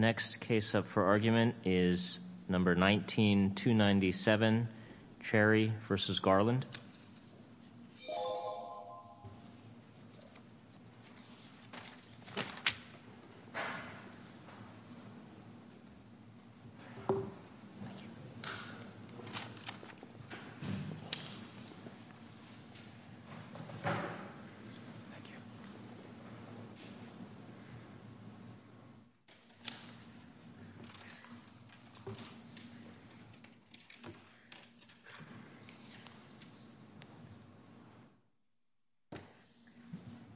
The next case up for argument is number 19-297, Cherry v. Garland.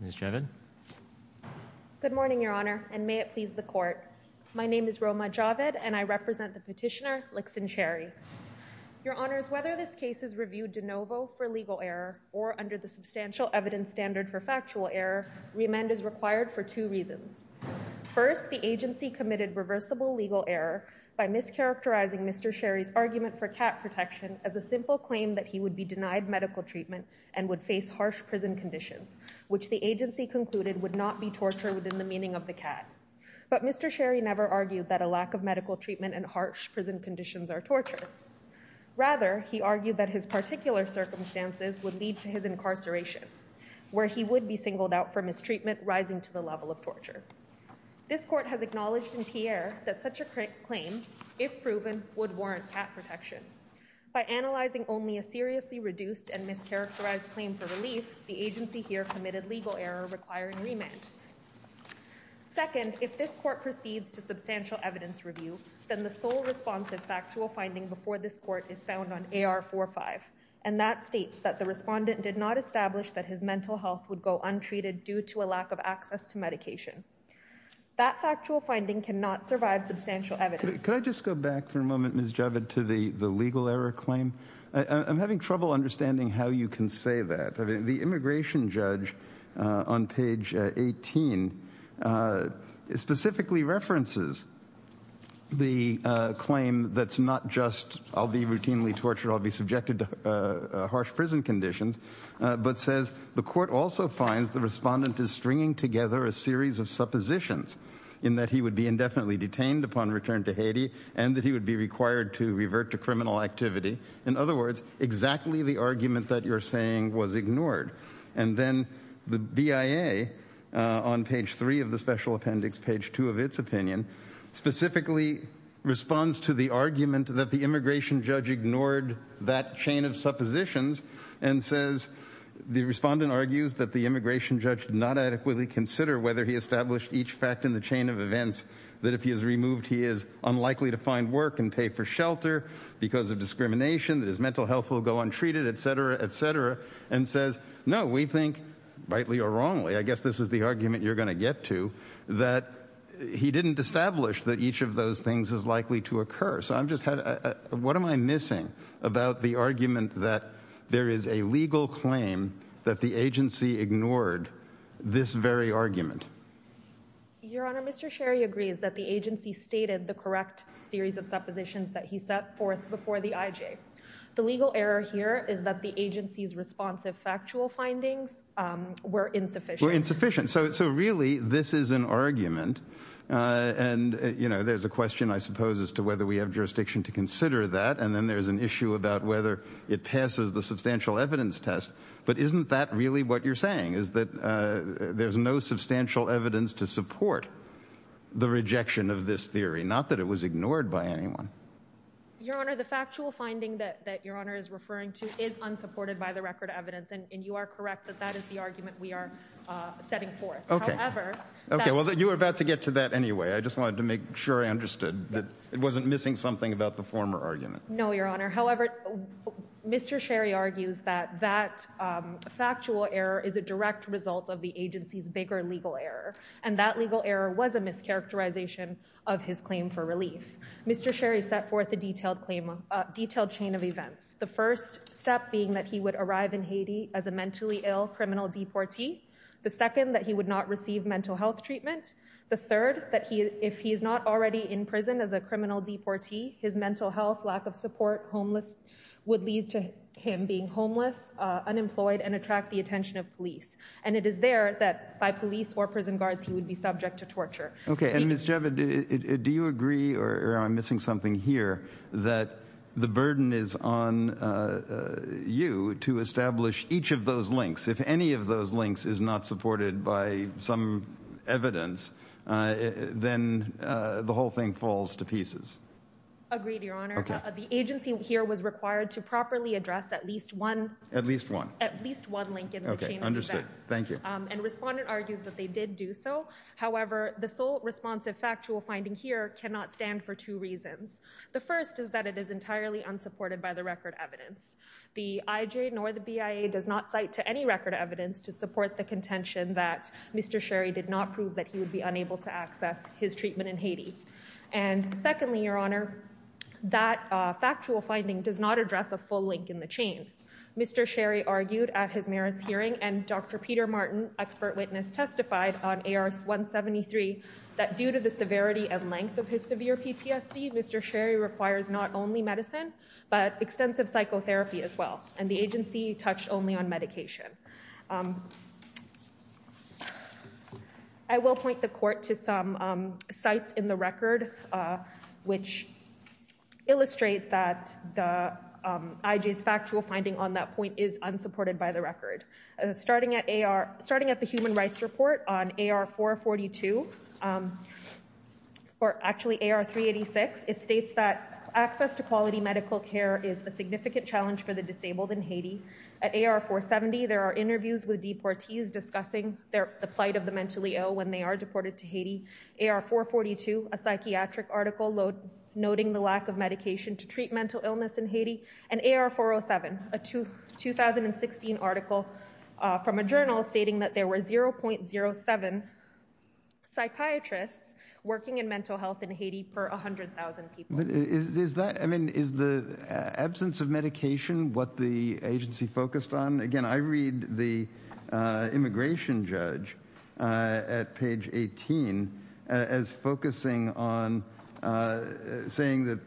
Ms. Javed Good morning, Your Honour, and may it please the Court. My name is Roma Javed and I represent the petitioner, Lixin Cherry. Your Honours, whether this case is reviewed de novo for legal error or under the Substantial Evidence Standard for factual error, reamend is required for two reasons. First, the agency committed reversible legal error by mischaracterizing Mr. Cherry's argument for cat protection as a simple claim that he would be denied medical treatment and would face harsh prison conditions, which the agency concluded would not be torture within the meaning of the cat. But Mr. Cherry never argued that a lack of medical treatment and harsh prison conditions are torture. Rather, he argued that his particular circumstances would lead to his incarceration, where he would be singled out for mistreatment, rising to the level of torture. This Court has acknowledged in Pierre that such a claim, if proven, would warrant cat protection. By analyzing only a seriously reduced and mischaracterized claim for relief, the agency here committed legal error requiring reamend. Second, if this Court proceeds to substantial evidence review, then the sole response of factual finding before this Court is found on AR 45, and that states that the respondent did not establish that his mental health would go untreated due to a lack of access to medication. That factual finding cannot survive substantial evidence. Could I just go back for a moment, Ms. Javed, to the legal error claim? I'm having trouble understanding how you can say that. The immigration judge on page 18 specifically references the claim that's not just, I'll be routinely tortured, I'll be subjected to harsh prison conditions, but says the Court also finds the respondent is stringing together a series of suppositions, in that he would be indefinitely detained upon return to Haiti, and that he would be required to revert to criminal activity. In other words, exactly the argument that you're saying was ignored. And then the BIA, on page 3 of the special appendix, page 2 of its opinion, specifically responds to the argument that the immigration judge ignored that chain of suppositions, and says, the respondent argues that the immigration judge did not adequately consider whether he established each fact in the chain of events, that if he is removed, he is unlikely to find work and pay for shelter because of discrimination, that his mental health will go untreated, et cetera, et cetera, and says, no, we think, rightly or wrongly, I guess this is the argument you're going to get to, that he didn't establish that each of those things is likely to occur. So I'm just, what am I missing about the argument that there is a legal claim that the agency ignored this very argument? Your Honor, Mr. Sherry agrees that the agency stated the correct series of suppositions that he set forth before the IJ. The legal error here is that the agency's responsive factual findings were insufficient. Were insufficient. So really, this is an argument, and you know, there's a question, I suppose, as to whether we have jurisdiction to consider that, and then there's an issue about whether it passes the substantial evidence test. But isn't that really what you're saying, is that there's no substantial evidence to support the rejection of this theory, not that it was ignored by anyone? Your Honor, the factual finding that Your Honor is referring to is unsupported by the setting forth. Okay. Okay, well, you were about to get to that anyway. I just wanted to make sure I understood that it wasn't missing something about the former argument. No, Your Honor. However, Mr. Sherry argues that that factual error is a direct result of the agency's bigger legal error, and that legal error was a mischaracterization of his claim for relief. Mr. Sherry set forth a detailed chain of events. The first step being that he would arrive in Haiti as a mentally ill criminal deportee. The second, that he would not receive mental health treatment. The third, that if he's not already in prison as a criminal deportee, his mental health, lack of support, homeless, would lead to him being homeless, unemployed, and attract the attention of police. And it is there that, by police or prison guards, he would be subject to torture. Okay, and Ms. Jevon, do you agree, or am I missing something here, that the burden is on you to establish each of those links? If any of those links is not supported by some evidence, then the whole thing falls to pieces. Agreed, Your Honor. Okay. The agency here was required to properly address at least one— At least one? At least one link in the chain of events. Okay, understood. Thank you. And Respondent argues that they did do so. However, the sole responsive factual finding here cannot stand for two reasons. The first is that it is entirely unsupported by the record evidence. The IJ nor the BIA does not cite to any record evidence to support the contention that Mr. Sherry did not prove that he would be unable to access his treatment in Haiti. And secondly, Your Honor, that factual finding does not address a full link in the chain. Mr. Sherry argued at his merits hearing, and Dr. Peter Martin, expert witness, testified on AR-173 that due to the severity and length of his severe PTSD, Mr. Sherry requires not only medicine but extensive psychotherapy as well, and the agency touched only on medication. I will point the Court to some sites in the record which illustrate that the IJ's factual finding on that point is unsupported by the record. Starting at AR—starting at the Human Rights Report on AR-442, or actually AR-386, it states that access to quality medical care is a significant challenge for the disabled in Haiti. At AR-470, there are interviews with deportees discussing their—the plight of the mentally ill when they are deported to Haiti. AR-442, a psychiatric article noting the lack of medication to treat mental illness in Haiti, and AR-407, a 2016 article from a journal stating that there were 0.07 psychiatrists working in mental health in Haiti per 100,000 people. Is that—I mean, is the absence of medication what the agency focused on? Again, I read the immigration judge at page 18 as focusing on—saying that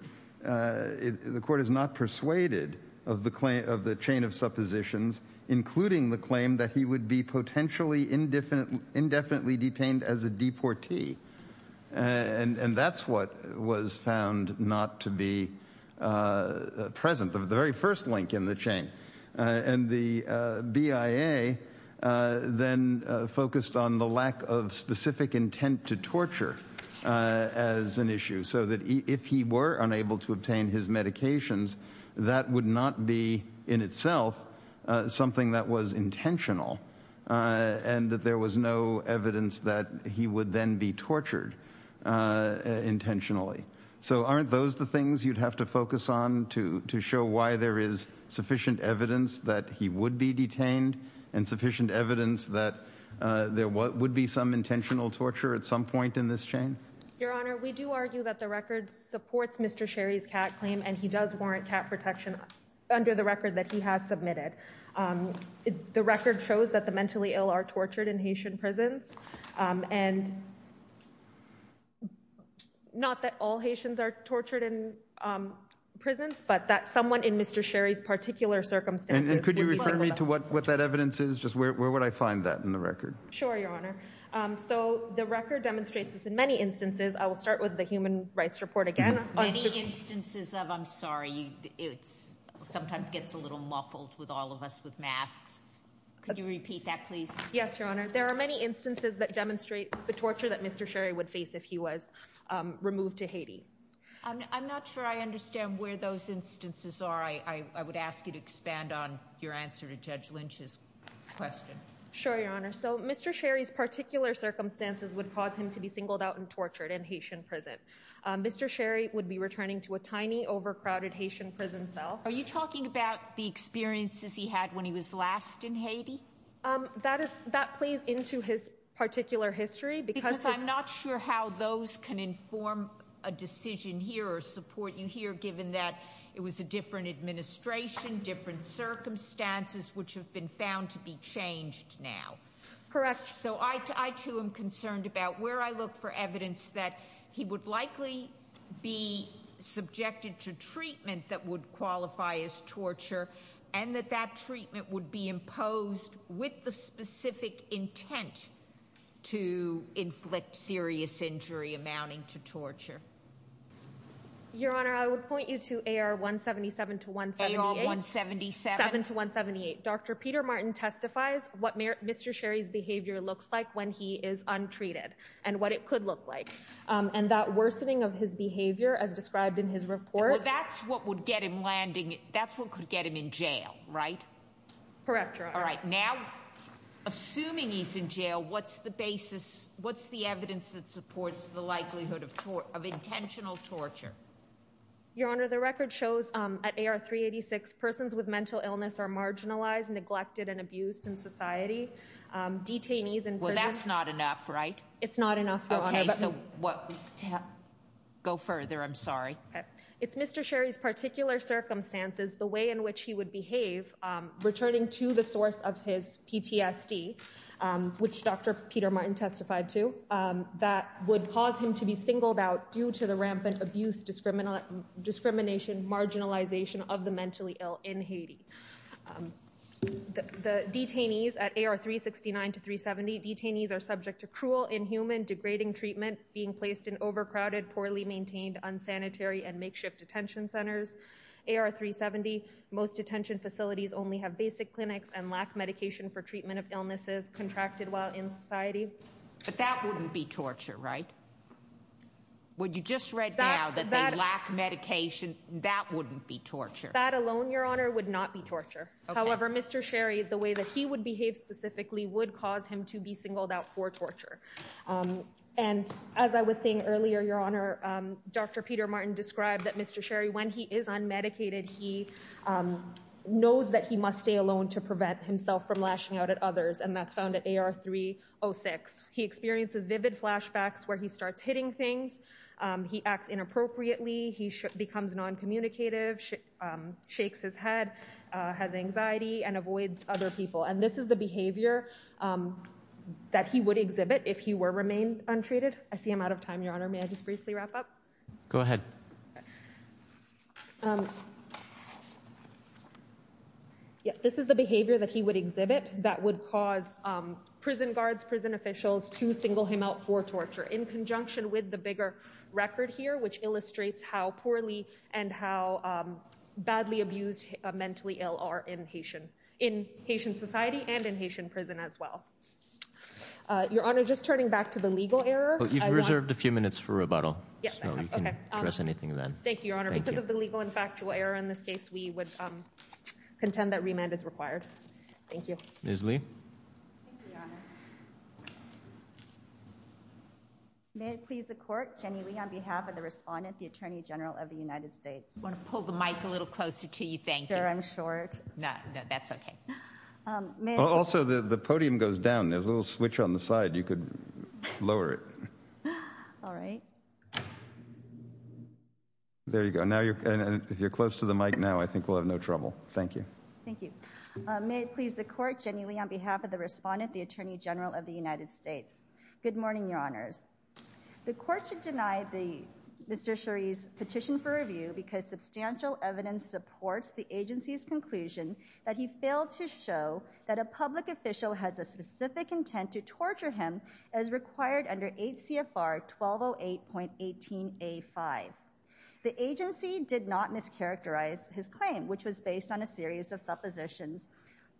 the Court is not persuaded of the claim—of the chain of suppositions, including the claim that he would be potentially indefinitely detained as a deportee, and that's what was found not to be present, the very first link in the chain. And the BIA then focused on the lack of specific intent to torture as an issue, so that if he were unable to obtain his medications, that would not be in itself something that was intentional, and that there was no evidence that he would then be tortured intentionally. So aren't those the things you'd have to focus on to show why there is sufficient evidence that he would be detained, and sufficient evidence that there would be some intentional torture at some point in this chain? Your Honor, we do argue that the record supports Mr. Sherry's cat claim, and he does warrant cat protection under the record that he has submitted. The record shows that the mentally ill are tortured in Haitian prisons, and—not that all Haitians are tortured in prisons, but that someone in Mr. Sherry's particular circumstances would be likely to— And could you refer me to what that evidence is? Just where would I find that in the record? Sure, Your Honor. So the record demonstrates this in many instances. I will start with the Human Rights Report again. Many instances of—I'm sorry, it sometimes gets a little muffled with all of us with masks. Could you repeat that, please? Yes, Your Honor. There are many instances that demonstrate the torture that Mr. Sherry would face if he was removed to Haiti. I'm not sure I understand where those instances are. I would ask you to expand on your answer to Judge Lynch's question. Sure, Your Honor. So Mr. Sherry's particular circumstances would cause him to be singled out and tortured in Haitian prison. Mr. Sherry would be returning to a tiny, overcrowded Haitian prison cell. Are you talking about the experiences he had when he was last in Haiti? That is—that plays into his particular history, because— Because I'm not sure how those can inform a decision here or support you here, given that it was a different administration, different circumstances, which have been found to be changed now. Correct. So I, too, am concerned about where I look for evidence that he would likely be subjected to treatment that would qualify as torture, and that that treatment would be imposed with the specific intent to inflict serious injury amounting to torture. Your Honor, I would point you to AR-177 to 178. AR-177? 7 to 178. Dr. Peter Martin testifies what Mr. Sherry's behavior looks like when he is untreated and what it could look like. And that worsening of his behavior, as described in his report— Well, that's what would get him landing—that's what could get him in jail, right? Correct, Your Honor. All right. Now, assuming he's in jail, what's the basis—what's the evidence that supports the likelihood of intentional torture? Your Honor, the record shows at AR-386, persons with mental illness are marginalized, neglected, and abused in society. Detainees and prisoners— Well, that's not enough, right? It's not enough, Your Honor. Okay, so what—go further, I'm sorry. It's Mr. Sherry's particular circumstances, the way in which he would behave, returning to the source of his PTSD, which Dr. Peter Martin testified to, that would cause him to be singled out due to the rampant abuse, discrimination, marginalization of the mentally ill in Haiti. The detainees at AR-369 to AR-370—detainees are subject to cruel, inhuman, degrading treatment, being placed in overcrowded, poorly maintained, unsanitary, and makeshift detention centers. AR-370—most detention facilities only have basic clinics and lack medication for treatment of illnesses contracted while in society. But that wouldn't be torture, right? What you just read now, that they lack medication, that wouldn't be torture. That alone, Your Honor, would not be torture. However, Mr. Sherry, the way that he would behave specifically would cause him to be singled out for torture. And as I was saying earlier, Your Honor, Dr. Peter Martin described that Mr. Sherry, when he is unmedicated, he knows that he must stay alone to prevent himself from lashing out at others, and that's found at AR-306. He experiences vivid flashbacks where he starts hitting things. He acts inappropriately. He becomes noncommunicative, shakes his head, has anxiety, and avoids other people. And this is the behavior that he would exhibit if he were to remain untreated. I see I'm out of time, Your Honor. May I just briefly wrap up? Go ahead. Yeah, this is the behavior that he would exhibit that would cause prison guards, prison officials to single him out for torture, in conjunction with the bigger record here, which illustrates how poorly and how badly abused, mentally ill are in Haitian society and in Haitian prison as well. Your Honor, just turning back to the legal error. You've reserved a few minutes for rebuttal. Yes, I have. Okay. So you can address anything then. Thank you, Your Honor. Thank you. Because of the legal and factual error in this case, we would contend that remand is required. Thank you. Ms. Lee? Thank you, Your Honor. May it please the Court, Jenny Lee on behalf of the Respondent, the Attorney General of the United States. I want to pull the mic a little closer to you, thank you. Sure, I'm short. No, no, that's okay. Also, the podium goes down. There's a little switch on the side. You could lower it. All right. There you go. And if you're close to the mic now, I think we'll have no trouble. Thank you. Thank you. May it please the Court, Jenny Lee on behalf of the Respondent, the Attorney General of the United States. Good morning, Your Honors. The Court should deny Mr. Cherie's petition for review because substantial evidence supports the agency's conclusion that he failed to show that a public official has a specific intent to torture him as required under 8 CFR 1208.18A5. The agency did not mischaracterize his claim, which was based on a series of suppositions,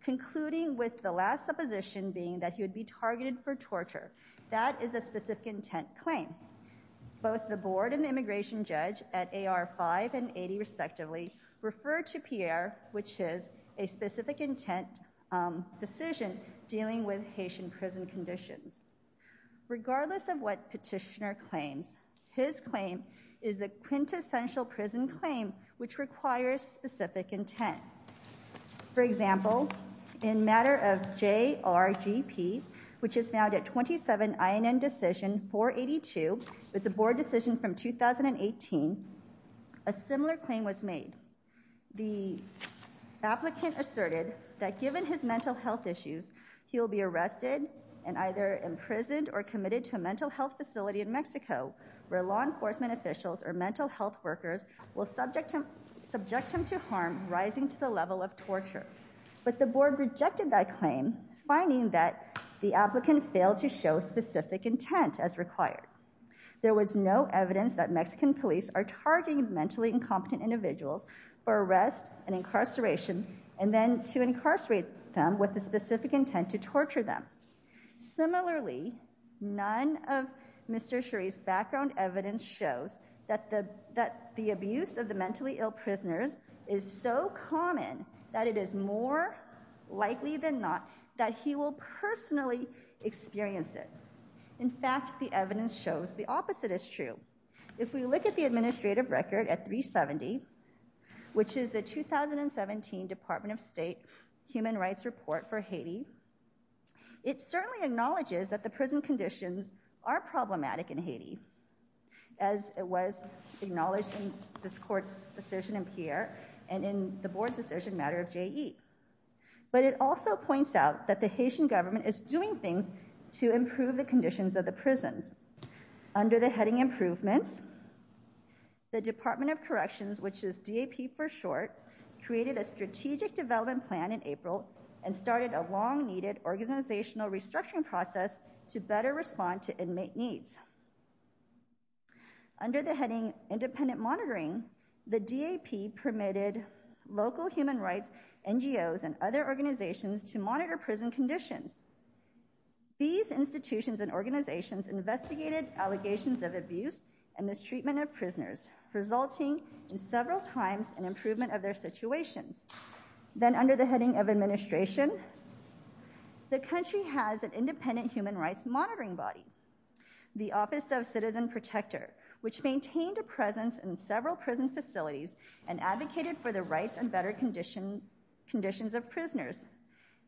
concluding with the last supposition being that he would be targeted for torture. That is a specific intent claim. Both the board and the immigration judge at AR-5 and 80, respectively, referred to Pierre, which is a specific intent decision dealing with Haitian prison conditions. Regardless of what petitioner claims, his claim is the quintessential prison claim, which requires specific intent. For example, in matter of JRGP, which is found at 27 INN decision 482, it's a board decision from 2018, a similar claim was made. The applicant asserted that given his mental health issues, he will be arrested and either imprisoned or committed to a mental health facility in Mexico where law enforcement officials or mental health workers will subject him to harm rising to the level of torture. But the board rejected that claim, finding that the applicant failed to show specific intent as required. There was no evidence that Mexican police are targeting mentally incompetent individuals for arrest and incarceration, and then to incarcerate them with the specific intent to torture them. Similarly, none of Mr. Cherie's background evidence shows that the abuse of the mentally ill prisoners is so common that it is more likely than not that he will personally experience it. In fact, the evidence shows the opposite is true. If we look at the administrative record at 370, which is the 2017 Department of State Human Rights Report for Haiti, it certainly acknowledges that the prison conditions are problematic in Haiti, as it was acknowledged in this court's assertion in Pierre and in the board's assertion in matter of JE. But it also points out that the Haitian government is doing things to improve the conditions of the prisons. Under the heading improvements, the Department of Corrections, which is DAP for short, created a strategic development plan in April and started a long-needed organizational restructuring process to better respond to inmate needs. Under the heading independent monitoring, the DAP permitted local human rights NGOs and other organizations to monitor prison conditions. These institutions and organizations investigated allegations of abuse and mistreatment of prisoners, resulting in several times an improvement of their situations. Then under the heading of administration, the country has an independent human rights monitoring body. The Office of Citizen Protector, which maintained a presence in several prison facilities and advocated for the rights and better conditions of prisoners,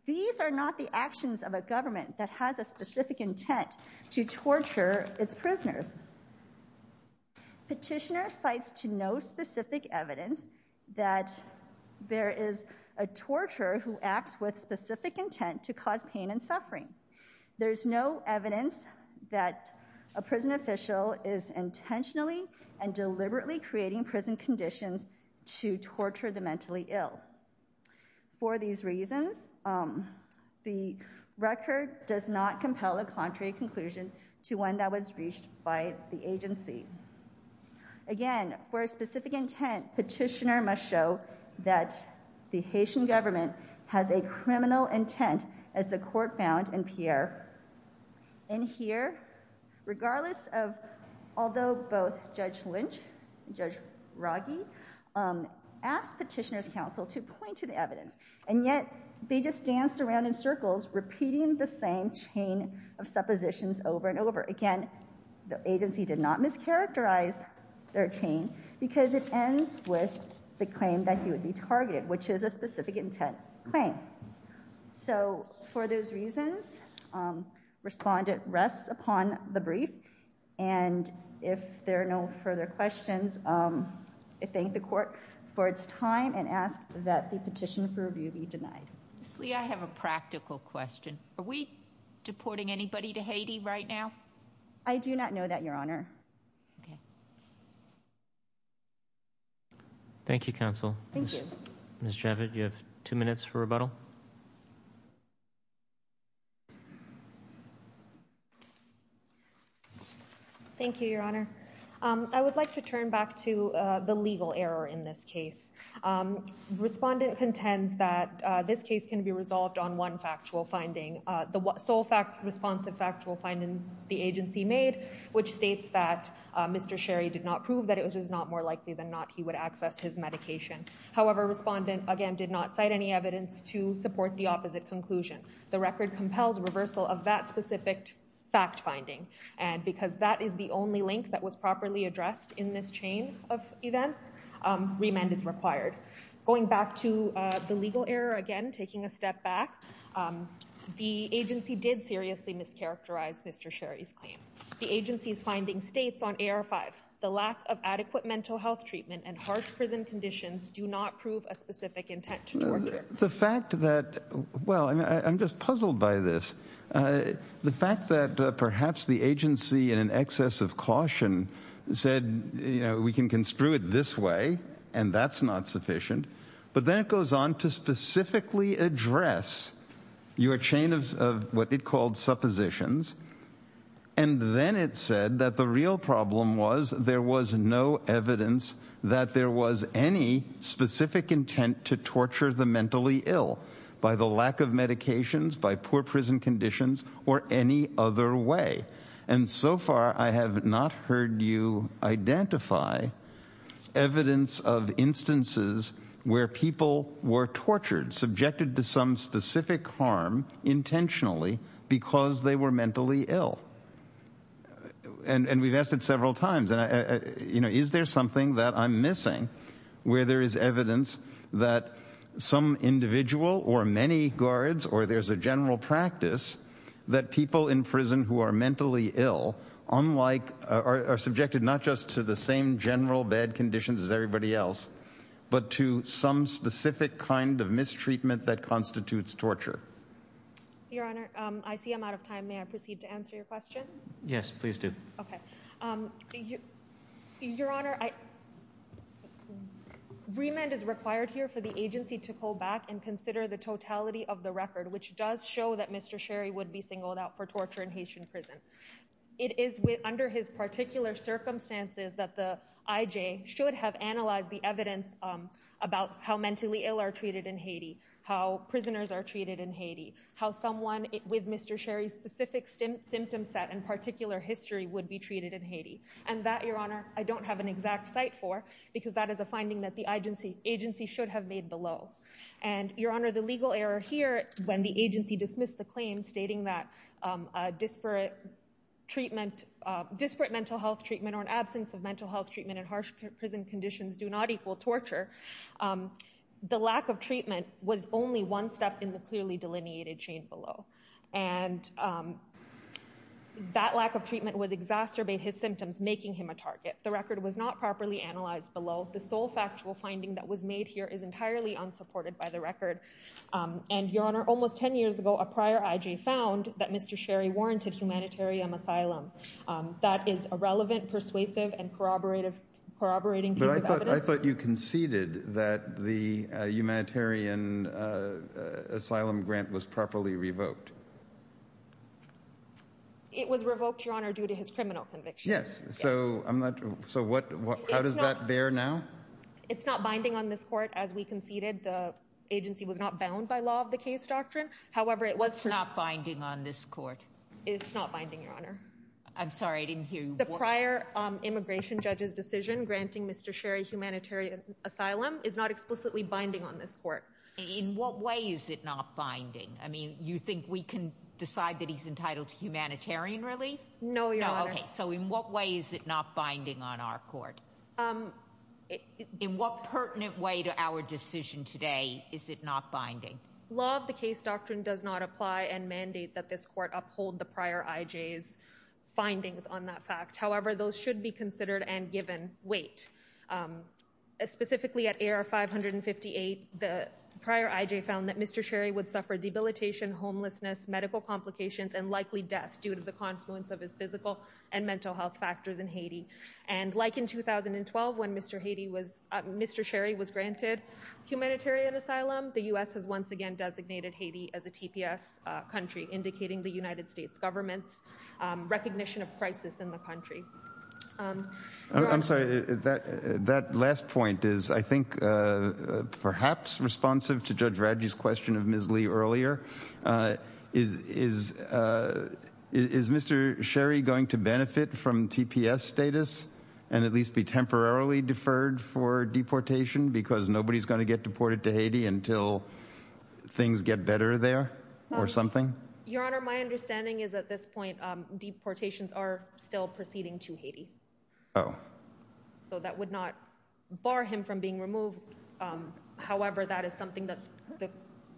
these are not the actions of a government that has a specific intent to torture its prisoners. Petitioner cites to no specific evidence that there is a torturer who acts with specific intent to cause pain and suffering. There's no evidence that a prison official is intentionally and deliberately creating prison conditions to torture the mentally ill. For these reasons, the record does not compel a contrary conclusion to one that was reached by the agency. Again, for a specific intent, petitioner must show that the Haitian government has a criminal intent, as the court found in Pierre. In here, regardless of, although both Judge Lynch and Judge Raggi asked Petitioner's counsel to point to the evidence, and yet they just danced around in circles repeating the same chain of suppositions over and over. Again, the agency did not mischaracterize their chain because it ends with the claim that he would be targeted, which is a specific intent claim. So for those reasons, respondent rests upon the brief, and if there are no further questions, I thank the court for its time and ask that the petition for review be denied. Ms. Lee, I have a practical question. Are we deporting anybody to Haiti right now? I do not know that, Your Honor. Okay. Thank you, counsel. Thank you. Ms. Javid, you have two minutes for rebuttal. Thank you, Your Honor. I would like to turn back to the legal error in this case. Respondent contends that this case can be resolved on one factual finding, the sole responsive factual finding the agency made, which states that Mr. Sherry did not prove that it was just not more likely than not he would access his medication. However, respondent, again, did not cite any evidence to support the opposite conclusion. The record compels reversal of that specific fact-finding, and because that is the only link that was properly addressed in this chain of events, remand is required. Going back to the legal error again, taking a step back, the agency did seriously mischaracterize Mr. Sherry's claim. The agency's finding states on AR-5, the lack of adequate mental health treatment and harsh prison conditions do not prove a specific intent to torture. The fact that, well, I'm just puzzled by this. The fact that perhaps the agency, in an excess of caution, said, you know, we can construe it this way, and that's not sufficient. But then it goes on to specifically address your chain of what it called suppositions. And then it said that the real problem was there was no evidence that there was any specific intent to torture the mentally ill by the lack of medications, by poor prison conditions, or any other way. And so far I have not heard you identify evidence of instances where people were tortured, subjected to some specific harm intentionally because they were mentally ill. And we've asked it several times, you know, is there something that I'm missing where there is evidence that some individual or many guards or there's a general practice that people in prison who are mentally ill are subjected not just to the same general bad conditions as everybody else, but to some specific kind of mistreatment that constitutes torture? Your Honour, I see I'm out of time, may I proceed to answer your question? Yes, please do. Okay. Your Honour, remand is required here for the agency to call back and consider the totality of the record, which does show that Mr. Sherry would be singled out for torture in Haitian prison. It is under his particular circumstances that the IJ should have analyzed the evidence about how mentally ill are treated in Haiti, how prisoners are treated in Haiti, how someone with Mr. Sherry's specific symptom set and particular history would be treated in Haiti. And that, Your Honour, I don't have an exact cite for because that is a finding that the agency should have made below. And Your Honour, the legal error here, when the agency dismissed the claim stating that a disparate treatment, disparate mental health treatment or an absence of mental health treatment in harsh prison conditions do not equal torture, the lack of treatment was only one step in the clearly delineated chain below. And that lack of treatment would exacerbate his symptoms, making him a target. The record was not properly analyzed below. The sole factual finding that was made here is entirely unsupported by the record. And Your Honour, almost 10 years ago, a prior IJ found that Mr. Sherry warranted humanitarian asylum. That is a relevant, persuasive and corroborating piece of evidence. But I thought you conceded that the humanitarian asylum grant was properly revoked. It was revoked, Your Honour, due to his criminal conviction. Yes. So, I'm not, so what, how does that bear now? It's not binding on this court as we conceded the agency was not bound by law of the case doctrine. However, it was... It's not binding on this court. It's not binding, Your Honour. I'm sorry, I didn't hear you. The prior immigration judge's decision granting Mr. Sherry humanitarian asylum is not explicitly binding on this court. In what way is it not binding? I mean, you think we can decide that he's entitled to humanitarian relief? No, Your Honour. Okay, so in what way is it not binding on our court? In what pertinent way to our decision today is it not binding? Law of the case doctrine does not apply and mandate that this court uphold the prior IJ's findings on that fact. However, those should be considered and given weight. Specifically at AR 558, the prior IJ found that Mr. Sherry would suffer debilitation, homelessness, medical complications, and likely death due to the confluence of his physical and mental health factors in Haiti. And like in 2012 when Mr. Sherry was granted humanitarian asylum, the U.S. has once again designated Haiti as a TPS country, indicating the United States government's recognition of crisis in the country. I'm sorry, that last point is I think perhaps responsive to Judge Radji's question of Ms. Is Mr. Sherry going to benefit from TPS status and at least be temporarily deferred for deportation because nobody's going to get deported to Haiti until things get better there or something? Your Honour, my understanding is at this point, deportations are still proceeding to Haiti. Oh. So that would not bar him from being removed, however that is something that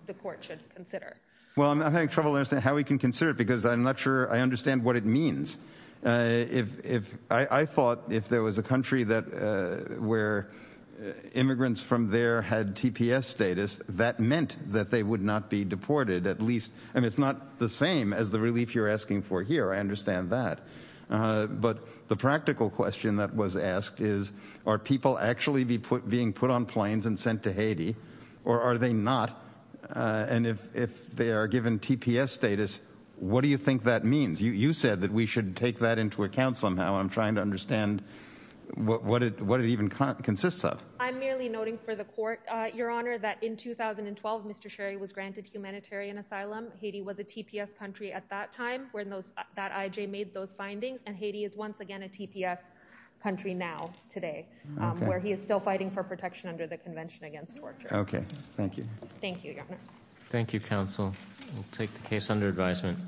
the court should consider. Well, I'm having trouble understanding how we can consider it because I'm not sure I understand what it means. I thought if there was a country where immigrants from there had TPS status, that meant that they would not be deported at least. And it's not the same as the relief you're asking for here, I understand that. But the practical question that was asked is, are people actually being put on planes and sent to Haiti or are they not? And if they are given TPS status, what do you think that means? You said that we should take that into account somehow. I'm trying to understand what it even consists of. I'm merely noting for the court, Your Honour, that in 2012, Mr. Sherry was granted humanitarian asylum. Haiti was a TPS country at that time when that IJ made those findings and Haiti is once again a TPS country now, today, where he is still fighting for protection under the Convention Against Torture. Okay, thank you. Thank you, Your Honour. Thank you, counsel. We'll take the case under advisement.